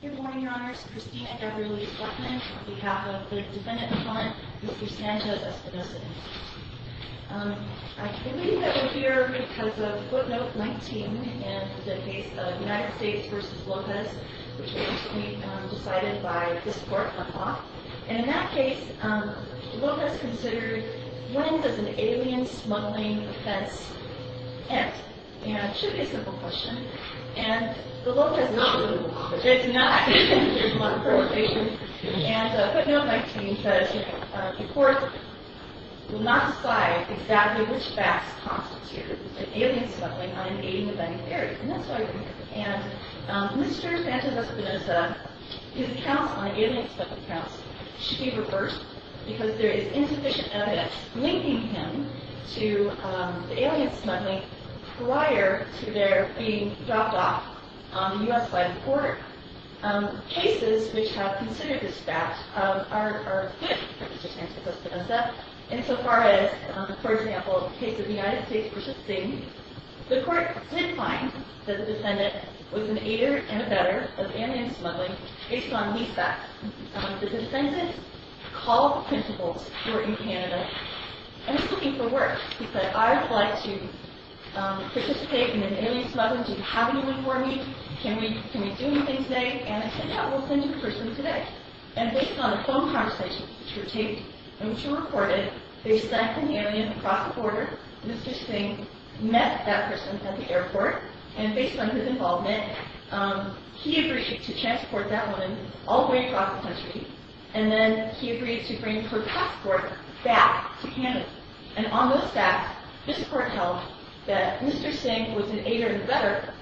Good morning, Your Honors. Christina Deverly Stuckmann, on behalf of the defendant in front, Mr. Sanchez-Espinoza. I believe that we're here because of footnote 19 in the case of United States v. Lopez, which was recently decided by this court on law. And in that case, Lopez considered wins as an alien smuggling offense. And it should be a simple question. And the law says it should be a law. And footnote 19 says the court will not decide exactly which facts constitute an alien smuggling on an alien event theory. And that's why we're here. And Mr. Sanchez-Espinoza, his counts on alien smuggling counts should be reversed because there is insufficient evidence linking him to the alien smuggling prior to their being dropped off on the U.S. side of the border. Cases which have considered this fact are good for Mr. Sanchez-Espinoza. Insofar as, for example, in the case of United States v. Sistine, the court did find that the defendant was an aider and abettor of alien smuggling based on these facts. The defendant called the principals who were in Canada and was looking for work. He said, I would like to participate in an alien smuggling. Do you have anyone for me? Can we do anything today? And I said, yeah, we'll send you a person today. And based on the phone conversations which were recorded, they sent an alien across the border. Mr. Singh met that person at the airport. And based on his involvement, he agreed to transport that woman all the way across the country. And then he agreed to bring her passport back to Canada. And on those facts, this court held that Mr. Singh was an aider and abettor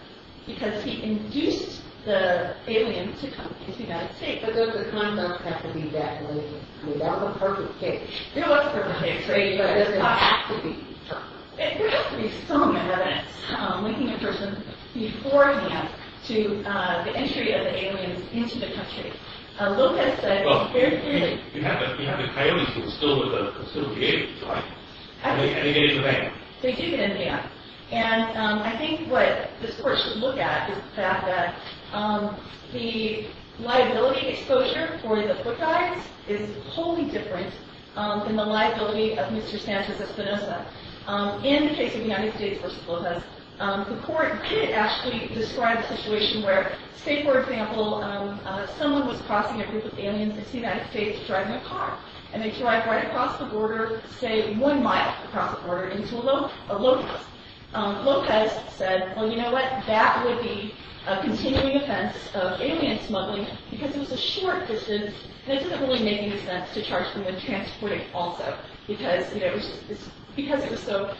because he induced the alien to come to the United States. But those are concepts that have to be defined. I mean, that was a perfect case. There was a perfect case, right? But it does not have to be perfect. There has to be some evidence linking a person beforehand to the entry of the aliens into the country. Lopez said very clearly. You have the coyotes who are still with the aliens, right? And they get in the van. They do get in the van. And I think what this court should look at is the fact that the liability exposure for the foot guides is wholly different than the liability of Mr. Sanchez Espinosa. In the case of the United States versus Lopez, the court did actually describe a situation where, say, for example, someone was crossing a group of aliens in the United States driving a car. And they drive right across the border, say, one mile across the border into Lopez. Lopez said, well, you know what? That would be a continuing offense of alien smuggling because it was a short distance. And it doesn't really make any sense to charge them with transporting also because it was so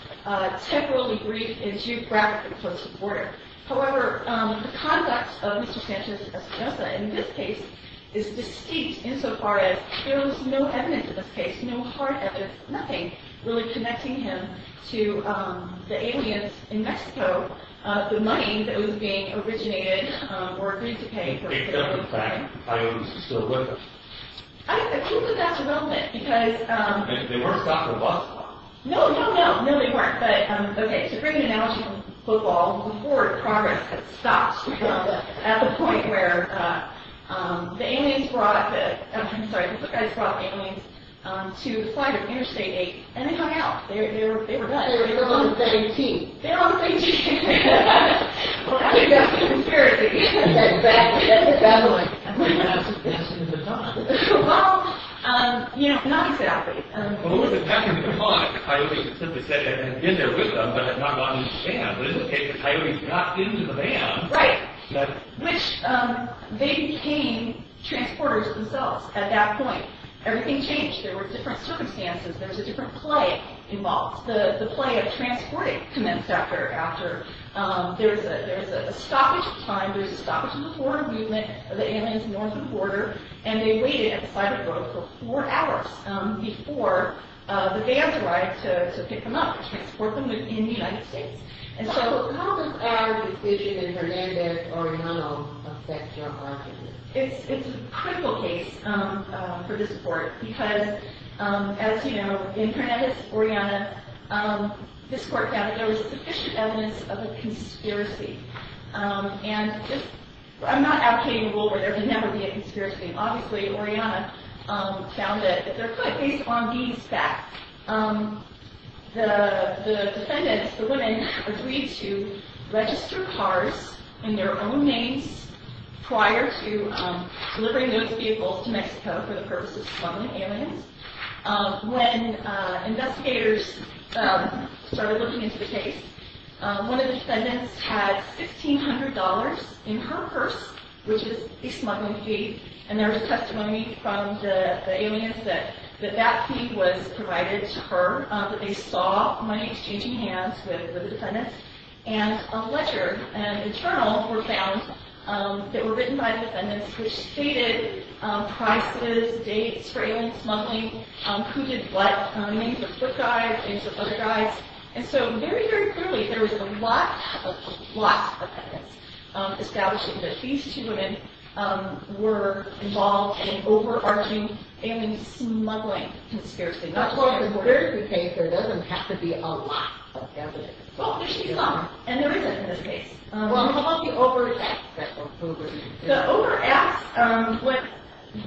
temporally brief and geographically close to the border. However, the conduct of Mr. Sanchez Espinosa in this case is distinct insofar as there was no evidence in this case, no hard evidence, nothing really connecting him to the aliens in Mexico, the money that was being originated or agreed to pay for. Based on the fact that the coyotes were still with them. I think that's relevant because… They weren't stopped at bus stops. No, no, no. No, they weren't. But, OK, to bring an analogy from football, the court of progress had stopped at the point where the aliens brought the… I'm sorry, the foot guys brought the aliens to the site of Interstate 8 and they hung out. They were done. They were on the same team. They were on the same team. Well, that's a good conspiracy. That's a bad one. That's a good one. Well, you know, not exactly. Well, who was it that could have been caught? The coyotes simply said they had been there with them but had not gotten into the van. But in this case, the coyotes got into the van. Right. Which they became transporters themselves at that point. Everything changed. There were different circumstances. There was a different play involved. The play of transporting commenced after… There was a stoppage time. There was a stoppage of the foreign movement of the aliens north of the border. And they waited at the side of the road for four hours before the vans arrived to pick them up and transport them in the United States. And so… How does our decision in Hernandez-Oriana affect your argument? It's a critical case for this court because, as you know, in Hernandez-Oriana, this court found that there was sufficient evidence of a conspiracy. And I'm not advocating a rule where there can never be a conspiracy. Obviously, Oriana found that if they're put based on these facts, the defendants, the women, agreed to register cars in their own names prior to delivering those vehicles to Mexico for the purpose of smuggling aliens. When investigators started looking into the case, one of the defendants had $1,600 in her purse, which is a smuggling fee. And there was testimony from the aliens that that fee was provided to her, that they saw money exchanging hands with the defendants. And a letter, an internal, were found that were written by the defendants, which stated prices, dates, trailing, smuggling, who did what, names of foot guys, names of other guys. And so, very, very clearly, there was a lot, a lot of evidence establishing that these two women were involved in overarching alien smuggling conspiracy. Of course, in their case, there doesn't have to be a lot of evidence. Well, there should be some, and there isn't in this case. Well, how about the overt acts? The overt acts,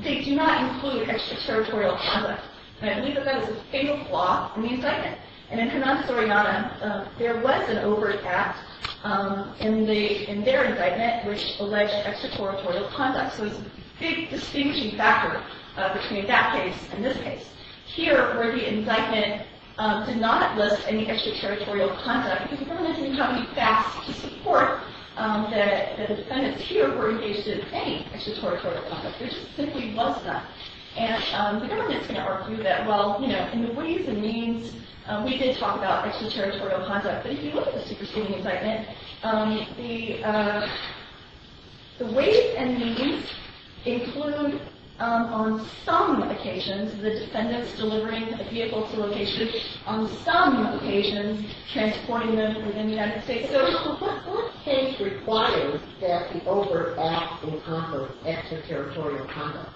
they do not include extraterritorial conduct. And I believe that that is a fatal flaw in the indictment. And in Hernandez-Oriana, there was an overt act in their indictment which alleged extraterritorial conduct. So it's a big distinguishing factor between that case and this case. Here, where the indictment did not list any extraterritorial conduct, because the government didn't have any facts to support that the defendants here were engaged in any extraterritorial conduct. There just simply was none. And the government's going to argue that, well, you know, in the ways and means, we did talk about extraterritorial conduct. But if you look at the superseding indictment, the ways and means include, on some occasions, the defendants delivering a vehicle to a location. On some occasions, transporting them within the United States. So what things require that the overt acts encompass extraterritorial conduct?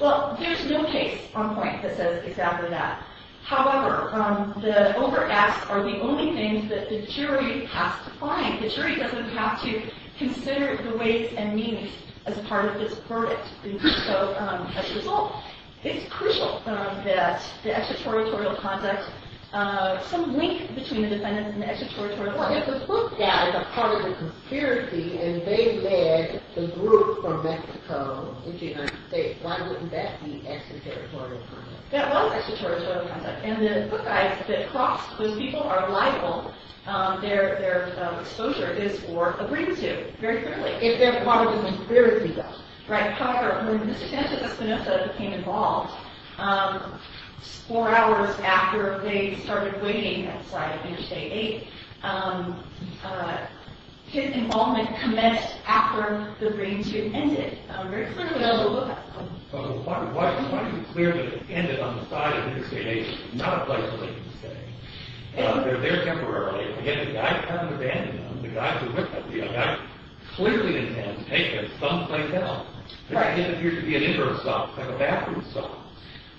Well, there's no case on point that says exactly that. However, the overt acts are the only things that the jury has to find. The jury doesn't have to consider the ways and means as part of this verdict. And so, as a result, it's crucial that the extraterritorial conduct, some link between the defendants and the extraterritorial conduct. But if the book died as a part of the conspiracy, and they led the group from Mexico into the United States, why wouldn't that be extraterritorial conduct? That was extraterritorial conduct. And the book dies. The cross, those people are liable. Their exposure is for a brain tube, very clearly. If they're part of the conspiracy. However, when Mr. Sanchez Espinosa became involved, four hours after they started waiting outside Interstate 8, his involvement commenced after the brain tube ended. Why is it clear that it ended on the side of Interstate 8, not a place where they can stay? They're there temporarily. Again, the guy found abandoned them, the guy who looked at them, the guy clearly intended to take them someplace else. It didn't appear to be an inbound stop, like a bathroom stop.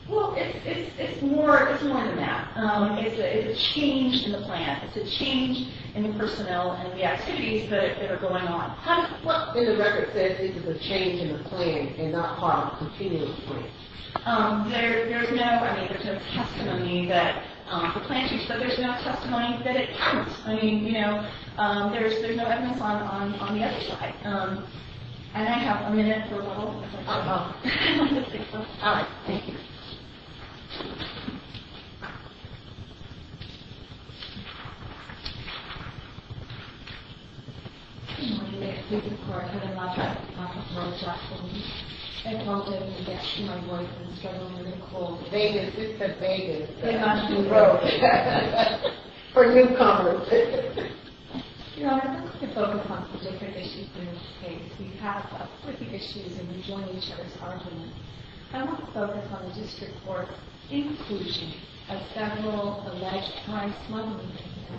Well, it's more than that. It's a change in the plan. It's a change in the personnel and the activities that are going on. What in the record says this is a change in the plan and not part of a continuous wait? There's no, I mean, there's no testimony that the plan changed, but there's no testimony that it can't. I mean, you know, there's no evidence on the other side. And I have a minute for a little. All right. Thank you. I'm going to get to my voice. I'm struggling with a cold. Vegas, this says Vegas. For newcomers. You know, I want to focus on some different issues in this case. We have a flurry of issues and we join each other's arguments. I want to focus on the district court's inclusion of federal alleged crime smuggling business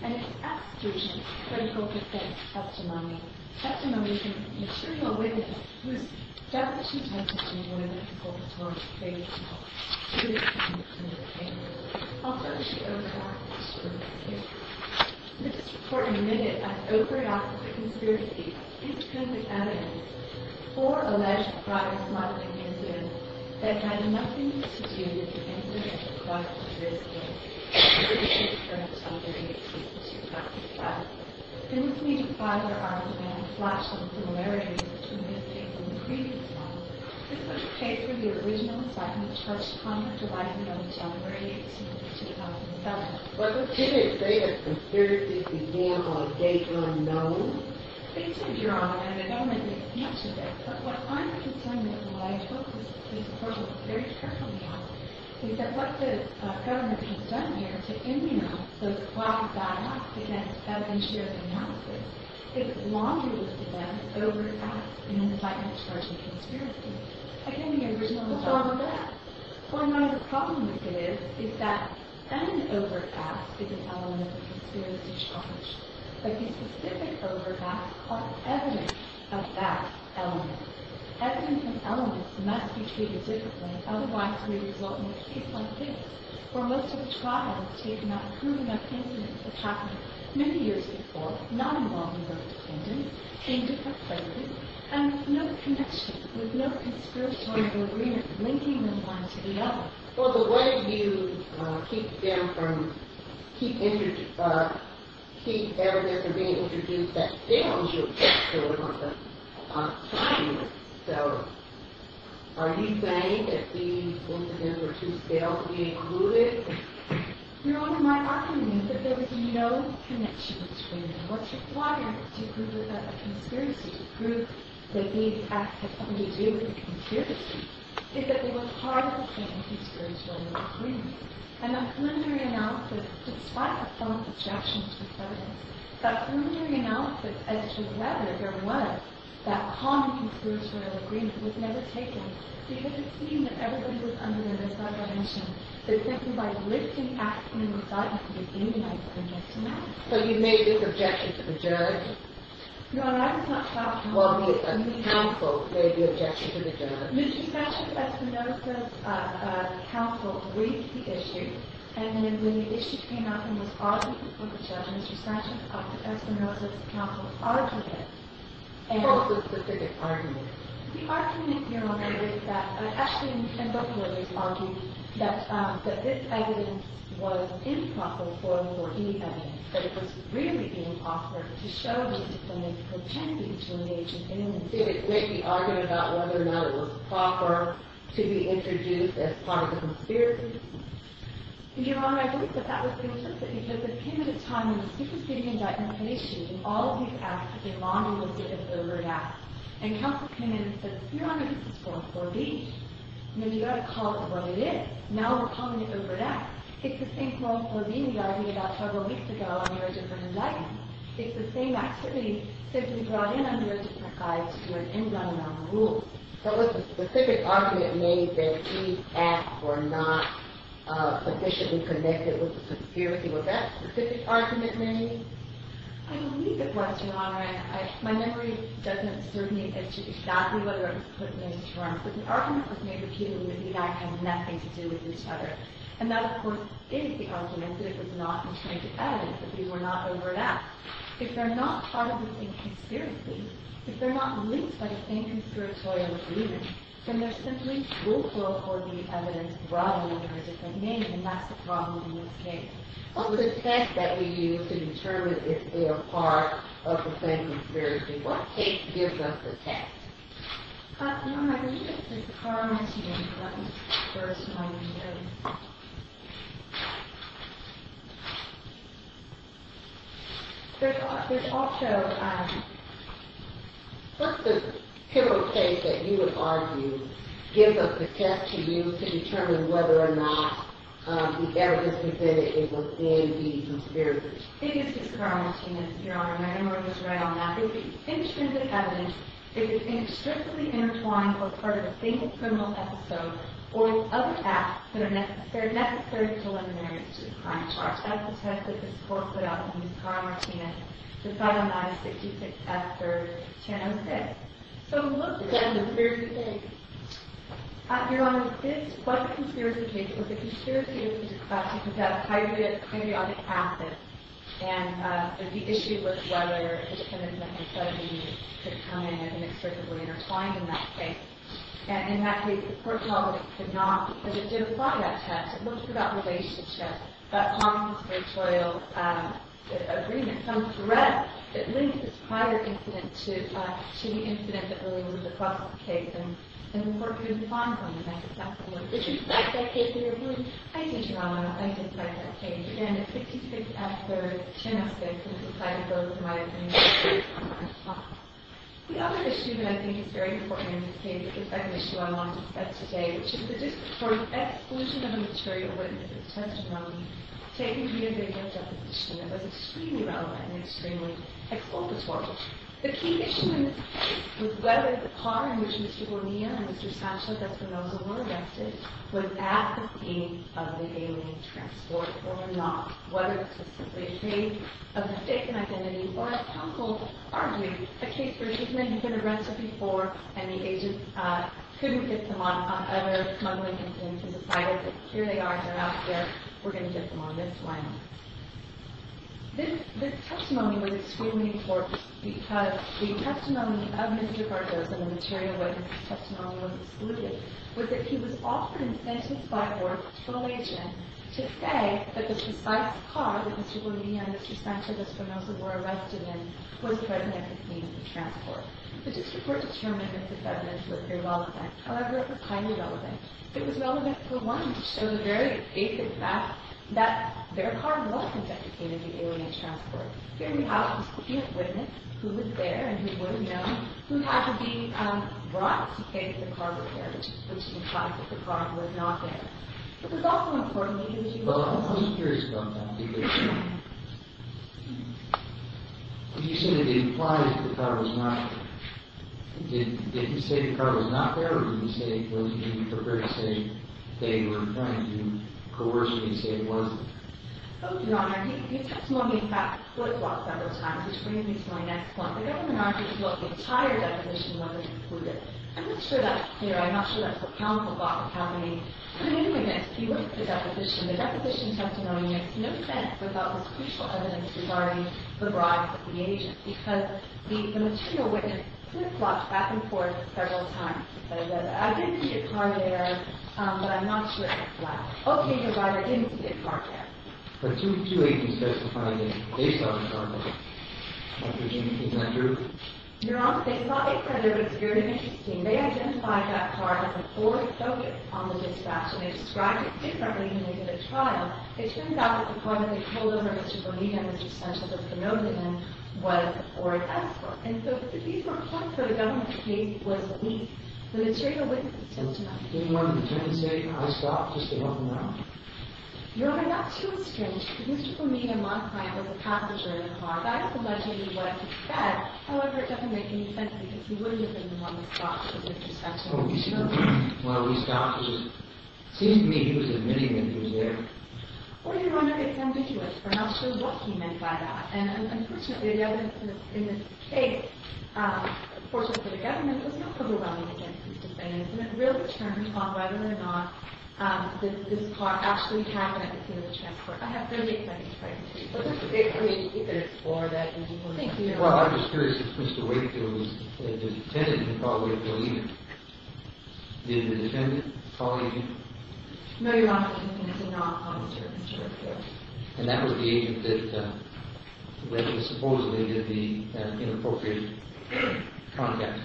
and its abstruse and critical defense testimony. Testimony from a material witness whose definition tends to be one of the consultants' greatest faults. She was accused of committing a crime. Also, she overreacted. The district court admitted of overreacting to conspiracy, incriminating evidence, or alleged product smuggling incident that had nothing to do with the incident across the district. The district court was not very excited about this fact. Since we defied their argument and flashed some similarities between this case and the previous one, this was a case where the original assignment was to conduct a license on January 18th, 2007. Was it too late for you to consider this example of data unknown? You said you're on it, and I don't think it's much of it. But what I'm concerned with, and why I took this approach very carefully, is that what the government has done here to immunize those quasi-bad acts against evidence-sharing policies is laundry-listed them as overt acts in an indictment charged with conspiracy. Again, the original assignment was that. So I know the problem with this is that an overt act is an element of a conspiracy charge. But the specific overt acts are evidence of that element. Evidence and elements must be treated differently, otherwise we result in a case like this, where most of the trial is taken on proving that incidents have happened many years before, not involving the defendant, in different places, and with no connection, with no conspiratorial agreement linking them one to the other. Well, but what if you keep down from, keep evidence from being introduced, that they don't do exactly what we want them talking about? So, are you saying that these incidents were too stale to be included? Your Honor, my argument is that there was no connection between them. What's required to prove that that's a conspiracy, to prove that these acts have something to do with the conspiracy, is that they were part of a conspiratorial agreement. And that preliminary analysis, despite the felon's objections to the evidence, that preliminary analysis as to whether there was that common conspiratorial agreement was never taken, because it seemed that everybody was under their misdivination. They simply, by lifting acts in an indictment, were demonizing this man. So you made this objection to the judge? Your Honor, I was not taught how to do that. Well, the counsel made the objection to the judge. Mr. Sanchez Espinosa's counsel read the issue, and then when the issue came up and was argued before the judge, Mr. Sanchez Espinosa's counsel argued it. What was the specific argument? The argument, Your Honor, is that, actually, in the book, it was argued that this evidence was improper for any evidence, that it was really improper to show that the defendant pretended to engage in an incident. Did it make the argument about whether or not it was proper to be introduced as part of the conspiracy? Your Honor, I think that that was the interest of it, because it came at a time when the Superstition Indictment had issued, and all of these acts had been monolithic as overt acts. And counsel came in and said, Your Honor, this is called Floreen, and then you've got to call it what it is. Now we're calling it overt acts. It's the same Floreen we argued about several weeks ago under a different indictment. It's the same activity simply brought in under a different indictment to do an in-run-around rule. What was the specific argument made that these acts were not officially connected with the conspiracy? Was that the specific argument made? I believe it was, Your Honor. My memory doesn't serve me as to exactly whether it was put in those terms, but the argument was made repeatedly that the act has nothing to do with each other. And that, of course, is the argument, and that it was not intended as if these were not overt acts. If they're not part of the same conspiracy, if they're not linked by the same conspiratorial agreement, then they're simply fruitful for the evidence brought in under a different name, and that's the problem in this case. Well, the text that we use to determine if they are part of the same conspiracy, what case gives us the text? Your Honor, I believe it's Discarnation, that was the first point you made. What's the typical case that you would argue gives us the test to use to determine whether or not the evidence presented is within these conspirators? I think it's Discarnation, Your Honor. My memory was right on that. Your Honor, it would be extrinsic evidence if it's inextricably intertwined or part of a single criminal episode, or it's other acts that are necessary preliminaries to the crime charge. That's the test that this Court put out when we used Cara Martinez to finalize 66 after 1006. So, what's the end of the conspiracy case? Your Honor, what the conspiracy case was, the conspiracy case was a case about how you could have a hyperionic acid, and the issue was whether the defendant's methamphetamine could come in and be extricably intertwined in that case. And in that case, the Court felt that it could not because it didn't apply that test. It looked for that relationship, that conspiratorial agreement. Some threat that linked this prior incident to the incident that really was the process of the case, and the Court couldn't find one. Does this reflect that case, Your Honor? Absolutely. I did, Your Honor. I did reflect that case. Again, it's 66 after 1006, and it's decided both, in my opinion, that the defendant's methamphetamine did not apply. The other issue that I think is very important in this case is the second issue I want to discuss today, which is the District Court's exclusion of a material witness, a testimony, taken via the evidence deposition. It was extremely relevant and extremely expository. The key issue in this case was whether the car in which Mr. Bonilla and Mr. Sancho Descanoso were arrested was at the scene of the alien transport or not, whether it was simply a case of mistaken identity, or, as counsel argued, a case where he's been arrested before and the agents couldn't get them on other smuggling incidents in society, but here they are, they're out there, we're going to get them on this one. This testimony was extremely important because the testimony of Mr. Gardosa, the material witness testimony was excluded, was that he was offered an incentive by a border patrol agent to say that this precise car that Mr. Bonilla and Mr. Sancho Descanoso were arrested in was threatening a case of transport. The District Court determined that the defendants were irrelevant, however highly relevant. It was relevant, for one, to show the very basic fact that their car wasn't deprecated in the alien transport. Here we have a key witness who was there and who would have known, who had to be brought to say that the car was there, which implies that the car was not there. But it was also important that he was able to say that. Well, I was curious about that, because you said it implies that the car was not there. Did he say the car was not there, or did he say, were you prepared to say they were trying to coerce me to say it wasn't there? No, Your Honor. He testimonied about the flip-flop several times, which brings me to my next point. The government argued that the entire deposition was excluded. I'm not sure that's clear. I'm not sure that's what counsel thought was happening. But anyway, next, he went to the deposition. The deposition testimony makes no sense without this crucial evidence regarding the bribe of the agent, because the material witness flip-flopped back and forth several times. He says, I did see a car there, but I'm not sure it was there. Okay, your Honor, I didn't see a car there. But two agents testified that they saw the car there. Is that true? Your Honor, they saw it there, but it's very interesting. They identified that car as a Ford Focus on the dispatch, and they described it differently when they did a trial. It turns out that the car that they pulled over Mr. Bonilla, Mr. Sanchez was promoted in, was a Ford Escort. And so these were points where the government's case was weak. The material witness is still tonight. Didn't one of the defendants say, I stopped just to help him out? Your Honor, that's too strange. Mr. Bonilla, my client, was a passenger in the car. That is allegedly what he said. However, it doesn't make any sense, because he wouldn't have been the one that stopped at his interception. Well, he stopped. It seems to me he was admitting that he was there. Or your Honor, it's ambiguous. We're not sure what he meant by that. And unfortunately, the evidence in this case, fortunately for the government, it was not covered by the defense's defense, and it really turns off whether or not this car actually happened at the scene of the transport. I have 30 seconds' privacy. Well, I'm just curious if Mr. Wakefield, the defendant, he probably didn't believe him. Did the defendant call the agent? No, Your Honor. He did not call Mr. Wakefield. And that was the agent that supposedly did the inappropriate contact.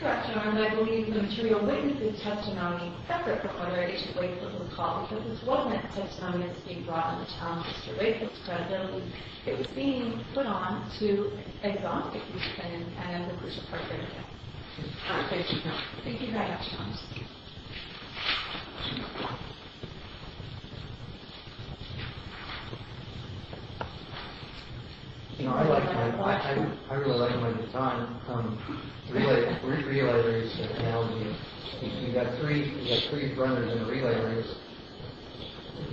That's correct, Your Honor. And I believe the material witnesses' testimony separate from whether Agent Wakefield was called, because this wasn't a testimony that was being brought on the town of Mr. Wakefield's presence. It was being put on to exhaust the defendant and the British Park area. Thank you, Your Honor. Thank you very much, Your Honor. Thank you. You know, I really like my baton. We're in a relay race in town. We've got three runners in a relay race.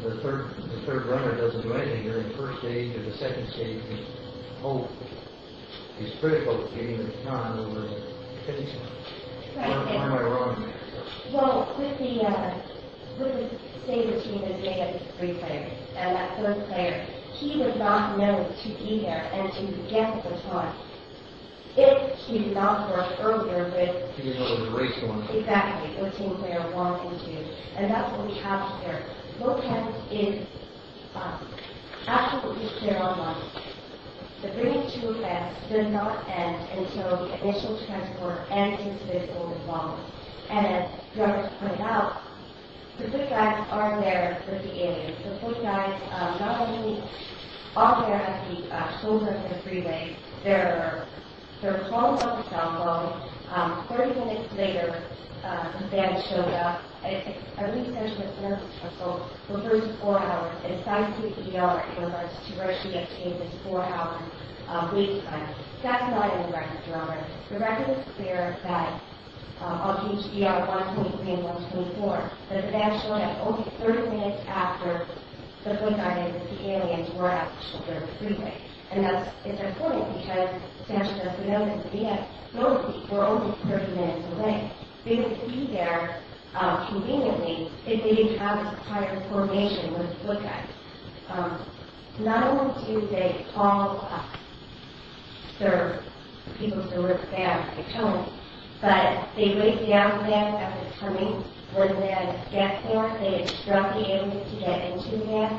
The third runner doesn't do anything during the first stage or the second stage. He's critical of getting to the town where we're heading to. I don't find that ironic, Your Honor. Well, with the state of the team, they get three players. And that third player, he does not know to be there and to get the time. If he did not show up earlier, it would... He would have a race going on. Exactly. The team player would want him to. And that's what we have here. No campus is absolutely clear on this. The bringing to a camp does not end until the initial transport ends into the open lawn. And, as Your Honor has pointed out, the good guys are there with the aliens. The good guys not only are there at the shoulder of the freeway. They're calling on the cell phone. Thirty minutes later, the van shows up. At least, as Your Honor has pointed out, the first four hours, it is time for the ER in regards to where she gets to in this four-hour wait time. That's not in the record, Your Honor. The record is clear that on page ER-123 and 124, that the van showed up only 30 minutes after the point that the aliens were at the shoulder of the freeway. And that's important because, as Your Honor has noted, those people are only 30 minutes away. They would be there conveniently if they had traveled to private formation with the good guys. Not only do they all serve the people who are with the van at the time, but they wait down the van after coming for the van to get there. They instruct the aliens to get into the van.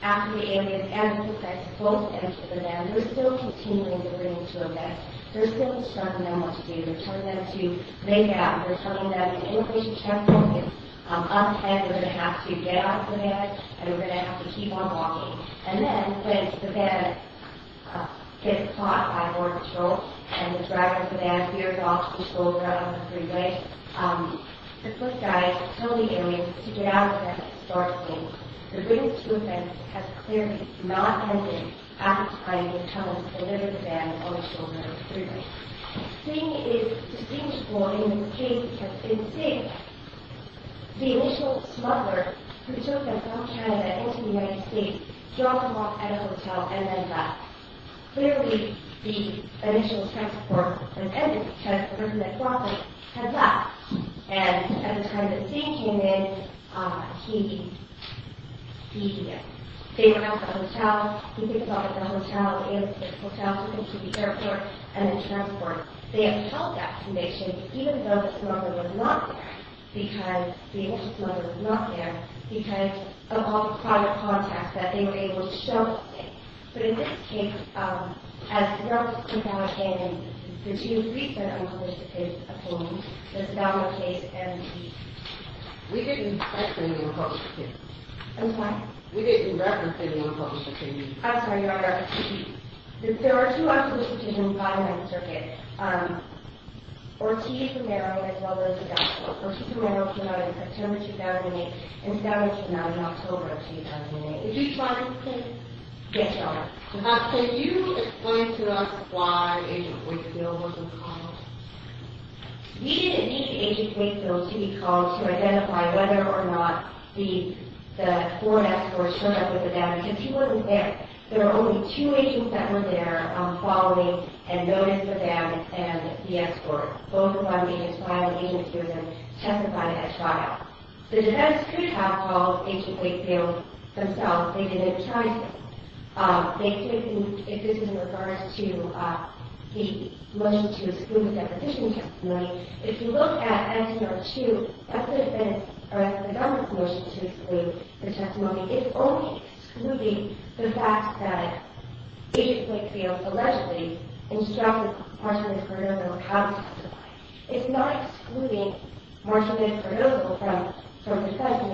After the aliens and the good guys both enter the van, they're still continuing the bringing to a van. They're still instructing them what to do. They're telling them to make out. They're telling them that the immigration check point is up ahead. They're going to have to get out of the van, and they're going to have to keep on walking. And then, when the van gets caught by Border Patrol and the driver of the van veers off the shoulder of the freeway, the good guys tell the aliens to get out of the van and start again. The bringing to a van has clearly not ended after the aliens tell them to deliver the van on the shoulder of the freeway. Singh is distinguishable in this case because in Singh, the initial smuggler who took the van from Canada into the United States dropped him off at a hotel and then left. Clearly, the initial transport has ended because the person that dropped him had left. And at the time that Singh came in, he didn't. They were at the hotel. He picked up at the hotel, and the hotel took him to the airport and then transported. They have held that connection even though the smuggler was not there because the initial smuggler was not there because of all the private contacts that they were able to show Singh. But in this case, as we all know, the two recent unpublished opinions, the Saddam case and the case. We didn't mention the unpublished opinions. I'm sorry? We didn't reference any unpublished opinions. I'm sorry, Your Honor. There are two unpublished opinions filed in the circuit. Ortiz Romero, as well as Saddam. Ortiz Romero came out in September 2008, and Saddam Hussein out in October 2008. Did you file a case? Yes, Your Honor. Can you explain to us why Agent Wakefield wasn't called? We didn't need Agent Wakefield to be called to identify whether or not the foreign exports showed up with the damage because he wasn't there. There were only two agents that were there following and noticed the damage and the export. Both of our agents filed the case, and two of them testified at trial. The defense could have called Agent Wakefield themselves. They didn't try to. If this is in regards to the motion to exclude the deposition testimony, if you look at Act No. 2, that's the government's motion to exclude the testimony. It's only excluding the fact that Agent Wakefield allegedly instructed Marshall M. Cordova on how to testify. It's not excluding Marshall M. Cordova from professing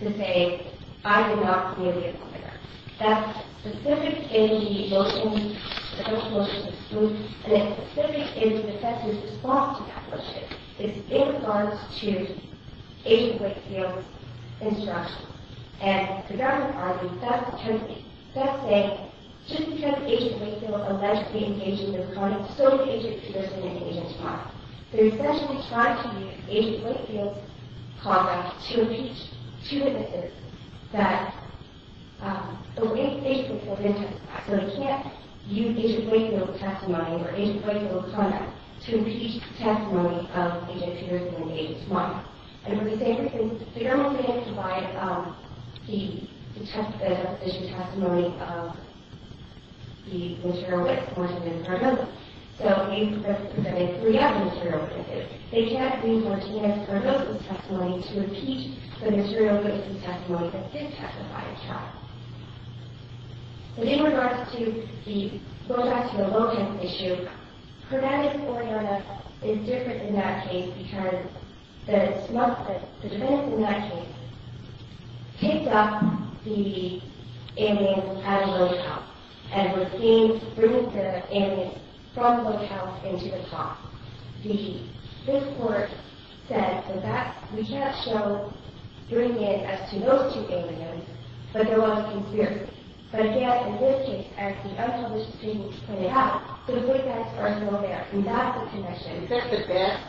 to say, I did not feel the attack. That's specific in the motion to exclude. And it's specific in the defense's response to that motion. It's in regards to Agent Wakefield's instructions. And the government argued, that's saying, just because Agent Wakefield allegedly engaged in the crime, so did Agent Peterson and Agent Todd. They essentially tried to use Agent Wakefield's contract to impeach two witnesses that the way Agent Peterson and Agent Todd testified. So they can't use Agent Wakefield's testimony or Agent Wakefield's contract to impeach the testimony of Agent Peterson and Agent Todd. And for the same reasons, the government didn't provide the deposition testimony of the material with Marshall M. Cordova. So Agent Peterson and three other material witnesses, they can't use Martinez-Cordova's testimony to impeach the material witness' testimony that did testify of Todd. So in regards to the low-tech to the low-tech issue, Hernandez-Cordova is different in that case, because the defense in that case picked up the ambulance at a low top and was deemed to bring the ambulance from the low top into the top. This court said that we can't show doing it as to those two ambulances, but there was a conspiracy. But yet, in this case, as the unpublished opinion pointed out, the low techs are still there, and that's the conviction. Is that the best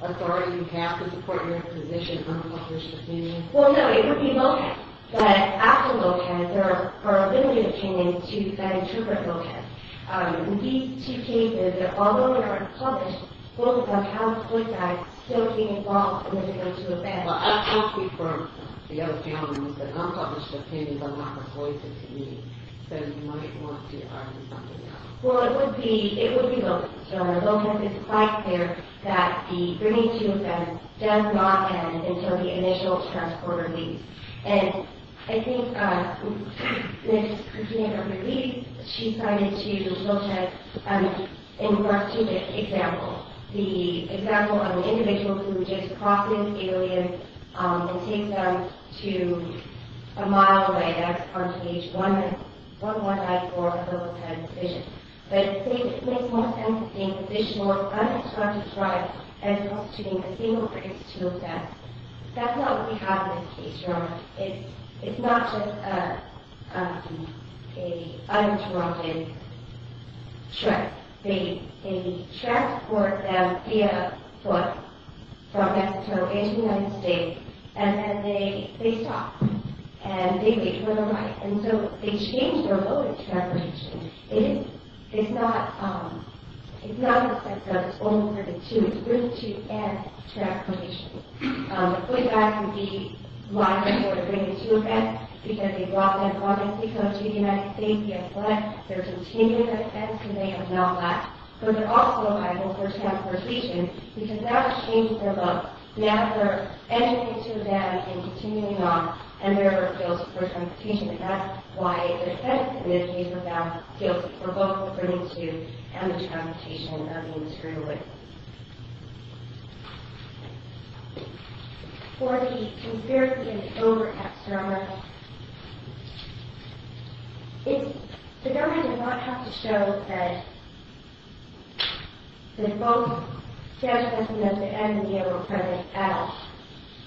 authority you have to support your position, unpublished opinion? Well, no, it would be low tech. But after low tech, there are limited opinions to then interpret low tech. These two cases, although they're unpublished, both of them have low tech still being involved in the bringing them to offense. Well, I've talked to you for the other few moments, but unpublished opinions are not reported to me. So you might want to argue something else. Well, it would be low tech. Low tech is quite clear that the bringing to offense does not end until the initial transporter leaves. And I think Ms. Coutinho-Ruiz, she cited to the low tech in regards to the example, the example of an individual who just crosses the area and takes them to a mile away. That's part of page 154 of the low tech decision. But it makes more sense to think of this more unobstructed trial as prostituting a single instance of death. That's not what we have in this case, Jerome. It's not just an uninterrupted trip. They transport them via foot from Mexico into the United States, and then they stop. And they wait for the right. And so they change their approach to transportation. It's not the sense of it's only for the two. It's really two and transportation. The footage I can see why they're sort of bringing to offense, because they brought them from Mexico to the United States. They have left. They're continuing their offense, and they have now left. So they're also liable for transportation, because now they're changing their look. Now they're entering into a van and continuing on, and they're guilty for transportation. And that's why the offense in this case was found guilty for both the bringing to and the transportation of being screwed with. For the conspiracy and the over-cap service, the government does not have to show that the folks standing at the end of the day were present at all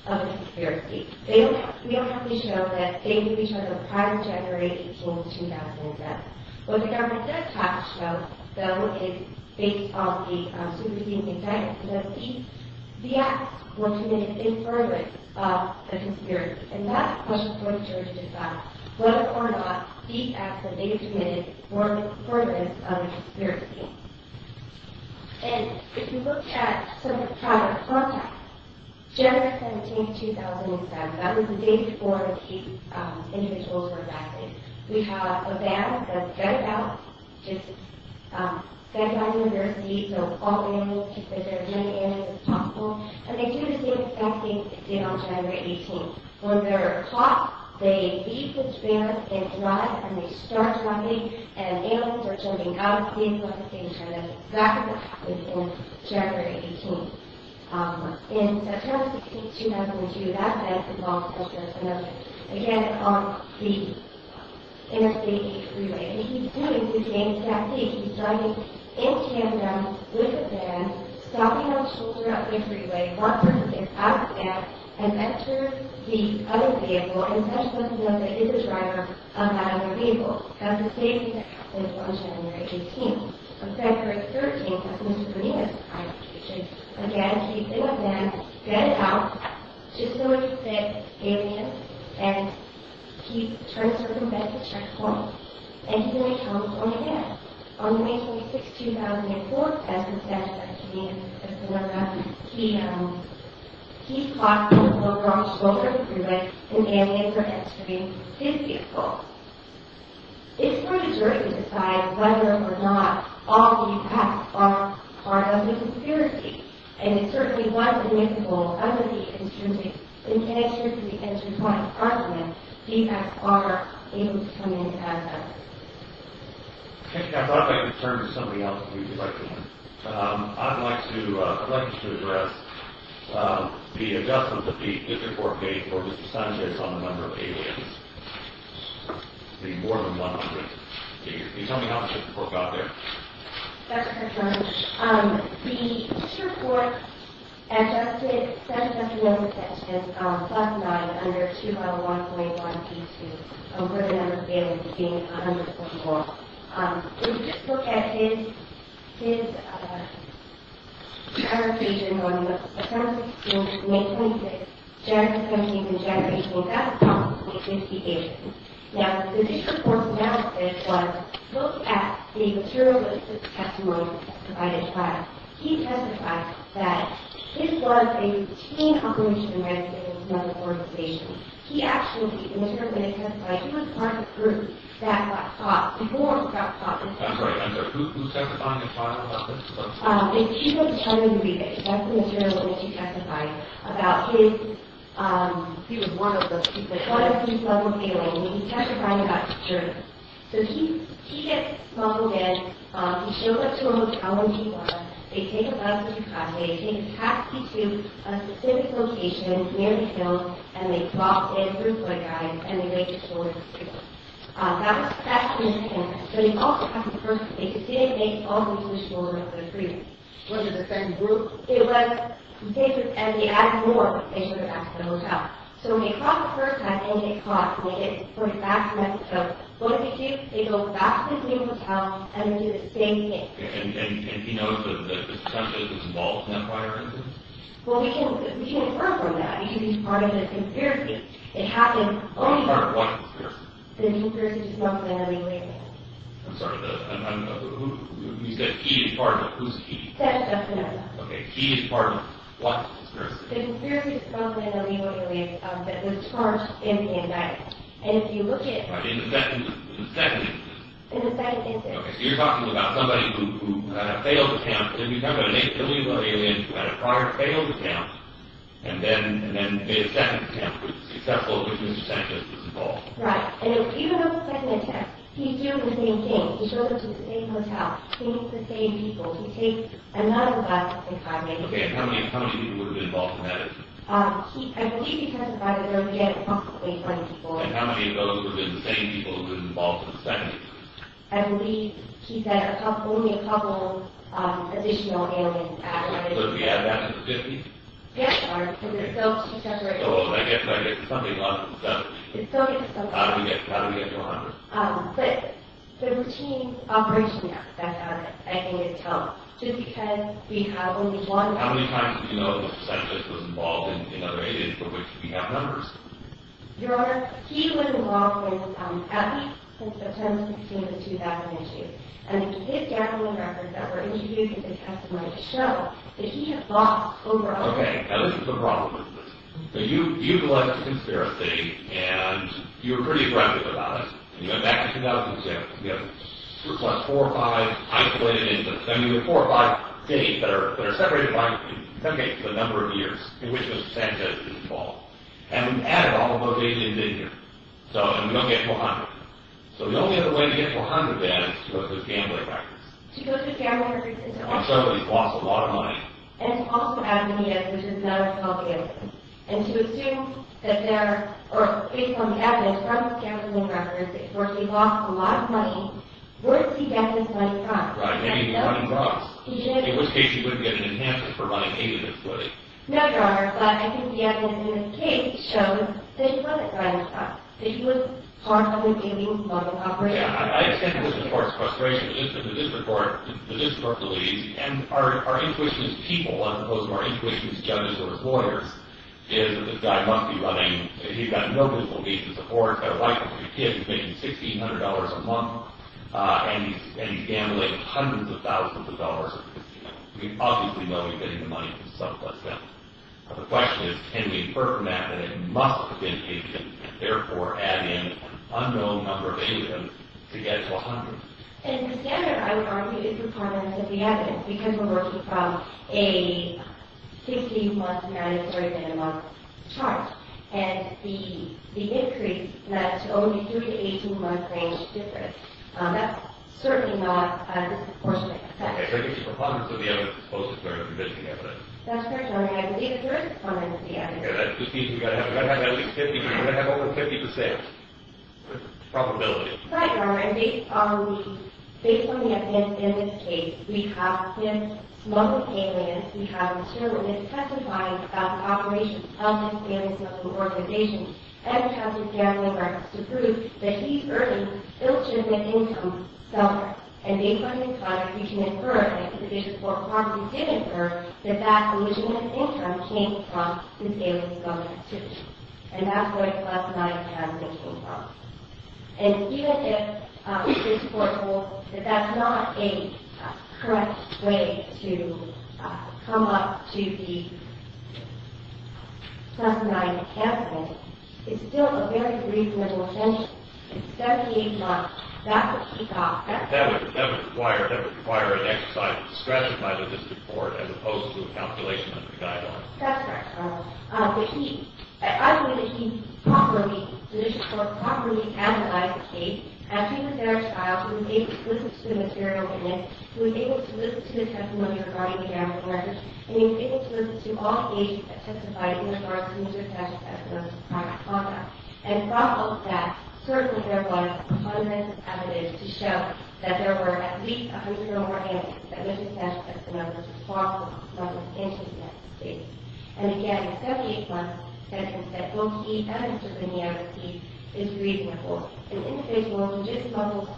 of the conspiracy. We don't have to show that they knew each other prior to January 18, 2010. What the government does have to show, though, is based on the superseding indictment. The acts were committed in furtherance of the conspiracy. And that's a question for the jury to decide whether or not the acts that they committed were in furtherance of the conspiracy. And if you look at some of the prior contacts, January 17, 2007. That was the day before these individuals were arrested. We have a van that's gutted out. It's gutted by the university, so all the animals, to preserve as many animals as possible. And they do the same exact thing they did on January 18. When they're caught, they leave the van and drive, and they start running, and animals are jumping out of the vehicle at the same time. That's exactly what happened on January 18. In September 16, 2002, that van was involved as well as another. Again, on the Interstate 8 freeway. And he's doing the same tactic. He's driving in tandem with a van, stopping on the shoulder of the freeway, one person gets out of the van and enters the other vehicle, and such does know that he's the driver of that other vehicle. That's the same thing that happens on January 18. On February 13, that's Mr. Bonilla's prior conviction. Again, he's in the van, gutted out, just so he could fit, gave in, and he turns to prevent the checkpoint. And here he comes once again. On May 26, 2004, that's the statute that he's in. That's the one that he's caught on the shoulder of the freeway, condemning him for entering his vehicle. It's hard to decide whether or not all defects are part of the conspiracy. And it certainly was admissible under the instrument in connection to the entry point of Parliament. Defects are things coming in tandem. I thought I'd like to turn to somebody else if you'd like to. I'd like you to address the adjustment that the District Court made for Mr. Sanchez on the number of aliens. It's going to be more than 100. Can you tell me how the District Court got there? The District Court adjusted Mr. Sanchez's detention on class 9 under 2.1.1b2, where the number of aliens is being 100.4. If you just look at his interrogation on September 16, May 26, January 16 and January 18, that's a comprehensive investigation. Now, the District Court's analysis was, look at the material evidence testimony provided by him. He testified that this was a team operation against another organization. He actually, in the material evidence testimony, he was part of a group that got caught before he got caught. Right, and who testified in the trial about this? He was trying to read it. That's the material evidence he testified about. He was one of those people. He was one of those people. He was testifying about his journey. So he gets smuggled in. He shows up to a hotel when he was. They take a bus through Cali. They take a taxi to a specific location near the hill, and they plop in through a guide, and they make it towards the school. That's in his case. So he also happens to be a person. They just didn't make it all the way to the school where they were treated. Was it the same group? It was the same group, and they added more. They took him back to the hotel. So when they caught him the first time, and they caught him, they went back to Mexico. What did they do? They go back to this new hotel, and they do the same thing. And he knows that this attempt to disinvolve the Empire is his? Well, we can infer from that. He should be part of the conspiracy. Part of what conspiracy? I'm sorry. You said he is part of it. Who's he? Okay. He is part of what conspiracy? In the second instance? In the second instance. Okay, so you're talking about somebody who had a failed attempt. We're talking about an alien who had a prior failed attempt, and then made a second attempt, but was successful, but was disinvolved. Right. And even though it was the second attempt, he's doing the same thing. He shows up to the same hotel, he meets the same people, he takes another bus, and drives away. Okay, and how many people would have been involved in that attempt? I believe he testified that there would be approximately 20 people. And how many of those would have been the same people who were involved in the second attempt? I believe he said only a couple additional aliens added. So did he add that to the 50? Yes, Your Honor. Because it's still too saturated. Oh, I get it. I get it. It's something else. It's something else. How did he get to 100? But the routine operation that he had, I think, is telling. Just because we have only one... How many times do you know the percentage was involved in other aliens for which we have numbers? Your Honor, he was involved with at least since September 16, 2002. And his gambling records that were interviewed show that he had lost over... Okay, now this is the problem with this. So you've alleged a conspiracy, and you were pretty aggressive about it, and you went back to 2006, and we have 4 or 5 isolated incidents, and we have 4 or 5 states that are separated by... Okay, so the number of years in which the Sanchez was involved. And we've added all of those aliens in here. So, and we don't get to 100. So the only other way to get to 100, then, is to go through his gambling records. To go through his gambling records and to... And so he lost a lot of money. And to also add in the aliens, which is another problem. And to assume that there... Or, based on the evidence from his gambling records, where he lost a lot of money, where did he get this money from? Right, maybe he wanted drugs. He didn't... In which case, you wouldn't get an enhancement for running 80 minutes, would you? No, Your Honor. But I think the evidence in this case shows that he wasn't buying drugs. That he was part of an alien smuggling operation. I understand the court's frustration. The district court believes... And our intuition as people, as opposed to our intuition as judges or as lawyers, is that this guy must be running... He's got no good belief in the courts. He's got a wife and three kids. He's making $1,600 a month. And he's gambling hundreds of thousands of dollars. We obviously know he's getting the money from someplace else. The question is, can we infer from that that it must have been agent, and therefore add in an unknown number of agents to get to $100,000? In the standard, I would argue it's a performance of the evidence, because we're working from a 16-month mandatory minimum charge. And the increase to only 3 to 18-month range is different. That's certainly not a disproportionate effect. Okay, so I guess it's a performance of the evidence as opposed to clear and convincing evidence. That's correct, Your Honor. I believe it's a performance of the evidence. Okay, that just means we've got to have at least 50%... We've got to have over 50% probability. Right, Your Honor. And based on the evidence in this case, we have him smuggling aliens. We have material that testifies about the operations of his gambling-smuggling organization. And we have some family records to prove that he's earning illegitimate income somewhere. And based on these files, we can infer, and we did infer that that illegitimate income came from his gambling-smuggling activity. And that's where the plus-nine canceling came from. And even if this court holds that that's not a correct way to come up to the plus-nine canceling, it's still a very reasonable assumption. It's 78 months. That would require an exercise of discretion by the district court as opposed to a calculation under the guidelines. That's correct, Your Honor. I believe that he properly, the district court, properly analyzed the case. And he was there as filed. He was able to listen to the material in it. He was able to listen to the testimony regarding the gambling records. And he was able to listen to all the agents that testified in regard to Mr. Sasha Testimone's private conduct. And from all of that, certainly there was evidence to show that there were at least 100 organics that Mr. Sasha Testimone was responsible for smuggling into the United States. And again, the 78-month sentence that both he and Mr. Bernier received is reasonable. And in this world, if you just smuggled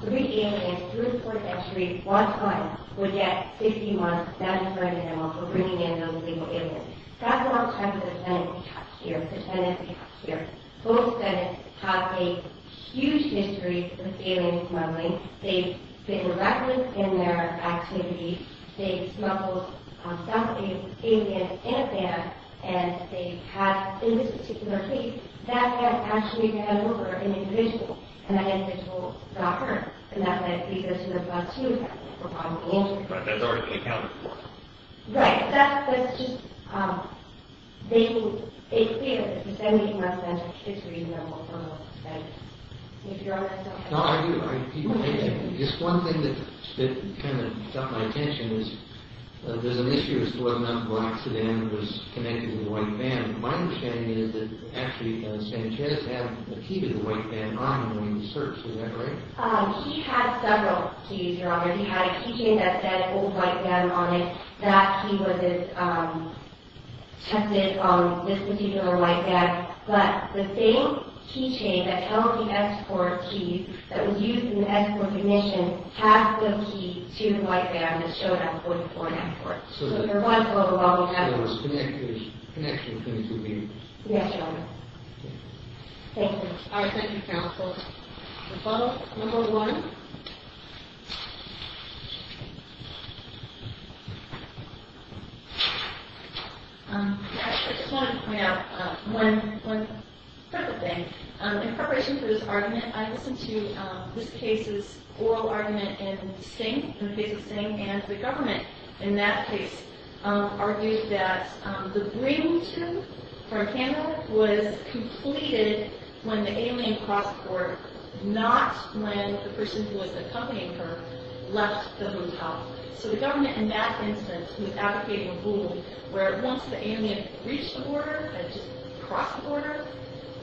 three aliens through the fourth entry one time, you would get 60 months, that is very minimal, for bringing in those illegal aliens. That's not the type of defendant we have here, the defendant we have here. Both defendants have a huge history with aliens smuggling. They've been arrested in their activity. They've smuggled some aliens in a van. And they have, in this particular case, that van actually ran over an individual. And that individual got hurt. And that meant he goes to the bus to the hospital for bottom of the water. But that's already been accounted for. Right. That's just making it clear that the 72-month sentence is reasonable for both defendants. If you're honest, OK. No, I do. Just one thing that kind of got my attention is there's an issue as to whether or not the black sedan was connected to the white van. My understanding is that actually Sanchez had a key to the white van on him when he searched. Is that right? He had several keys, Robert. He had a keychain that said old white van on it. That key was tested on this particular white van. But the same keychain that tells the ex-court keys that was used in the ex-court commission has the key to the white van that showed up before an ex-court. So there was a connection between the two. Yes, Your Honor. Thank you. All right. Thank you, counsel. Rebuttal number one. Thank you. I just wanted to point out one separate thing. In preparation for this argument, I listened to this case's oral argument in Sting. In the case of Sting and the government, in that case, argued that the briefing from Canada was completed when the alien crossed the board, not when the person who was accompanying her left the hotel. So the government, in that instance, was advocating a ruling where once the alien reached the border, had just crossed the border,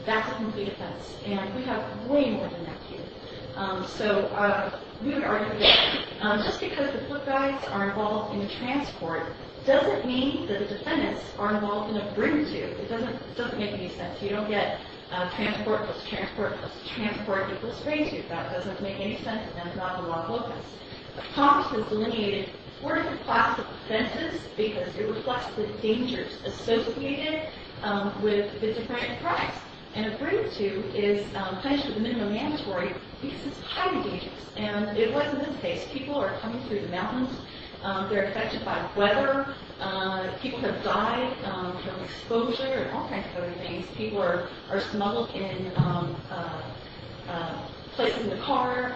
that's a complete offense. And we have way more than that here. So we would argue that just because the book guides are involved in transport doesn't mean that the defendants are involved in a brief too. It doesn't make any sense. You don't get a transportless, transportless, transportless phrase. That doesn't make any sense. And that's not in the law focus. Thomas has delineated fourth class offenses because it reflects the dangers associated with the different crimes. And a brief too is punished with a minimum mandatory because it's highly dangerous. And it wasn't his case. People are coming through the mountains. They're affected by weather. People have died from exposure and all kinds of other things. People are smuggled in places in the car,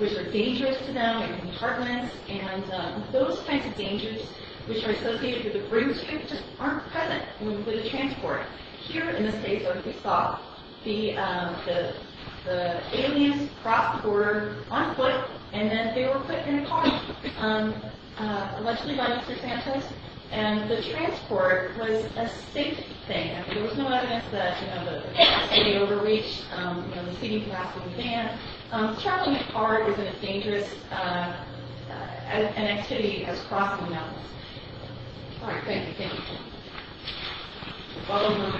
which are dangerous to them, in apartments. And those kinds of dangers, which are associated with a brief too, just aren't present when we put a transport. Here in the States, what we saw, the aliens crossed the border on foot, and then they were put in a car, allegedly by Mr. Santos. And the transport was a safe thing. There was no evidence that the city overreached the seating capacity of the van. Traveling by car was as dangerous an activity as crossing the mountains. All right, thank you. Thank you. Follow me. Thank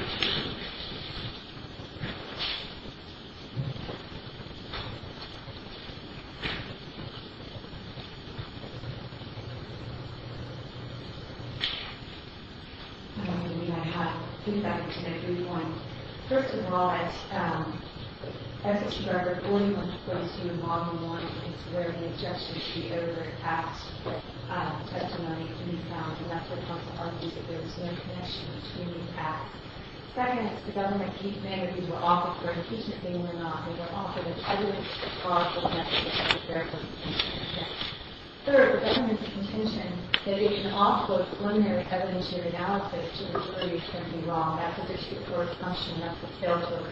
you. I have three questions. I agree with one. First of all, as a survivor, all you want to do is do a model one and consider any objections to the other acts of testimony. And that's what comes up, is that there Second, the government can decide if you were offered for an impeachment thing or not. If you were offered, there's evidence that the cause of the message was a terrible intention. Third, the government's contention that it can offload preliminary evidence or analysis to the jury can be wrong. That's a dispute for assumption. That's a terrible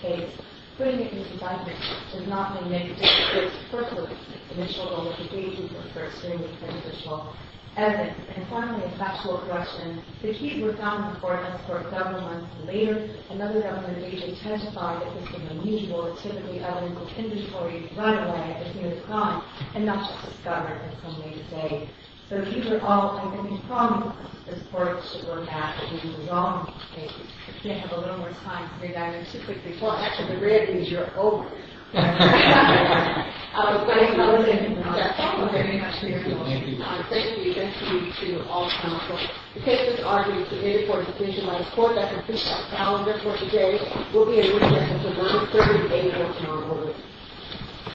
case. Putting it into judgment does not mean that you disagree. First of all, it's the initial goal of the case is to infer extremely prejudicial evidence. And finally, a factual question. If he was found before us for a couple months later, another government agent testified that this was unusual. It's typically evidence of inventory right away if he was gone, and not just discovered in some way today. So these are all, I think, problems the court should look at in the wrong cases. If we have a little more time to do that, I'm too quick to talk. Actually, the red means you're over. I was going to close in on that. Thank you very much for your time. Thank you. Thank you to all panelists. The case is argued to be made for a decision by the court that concludes our calendar for today. We'll be in recess until 1st, 3rd, and 8th of tomorrow morning.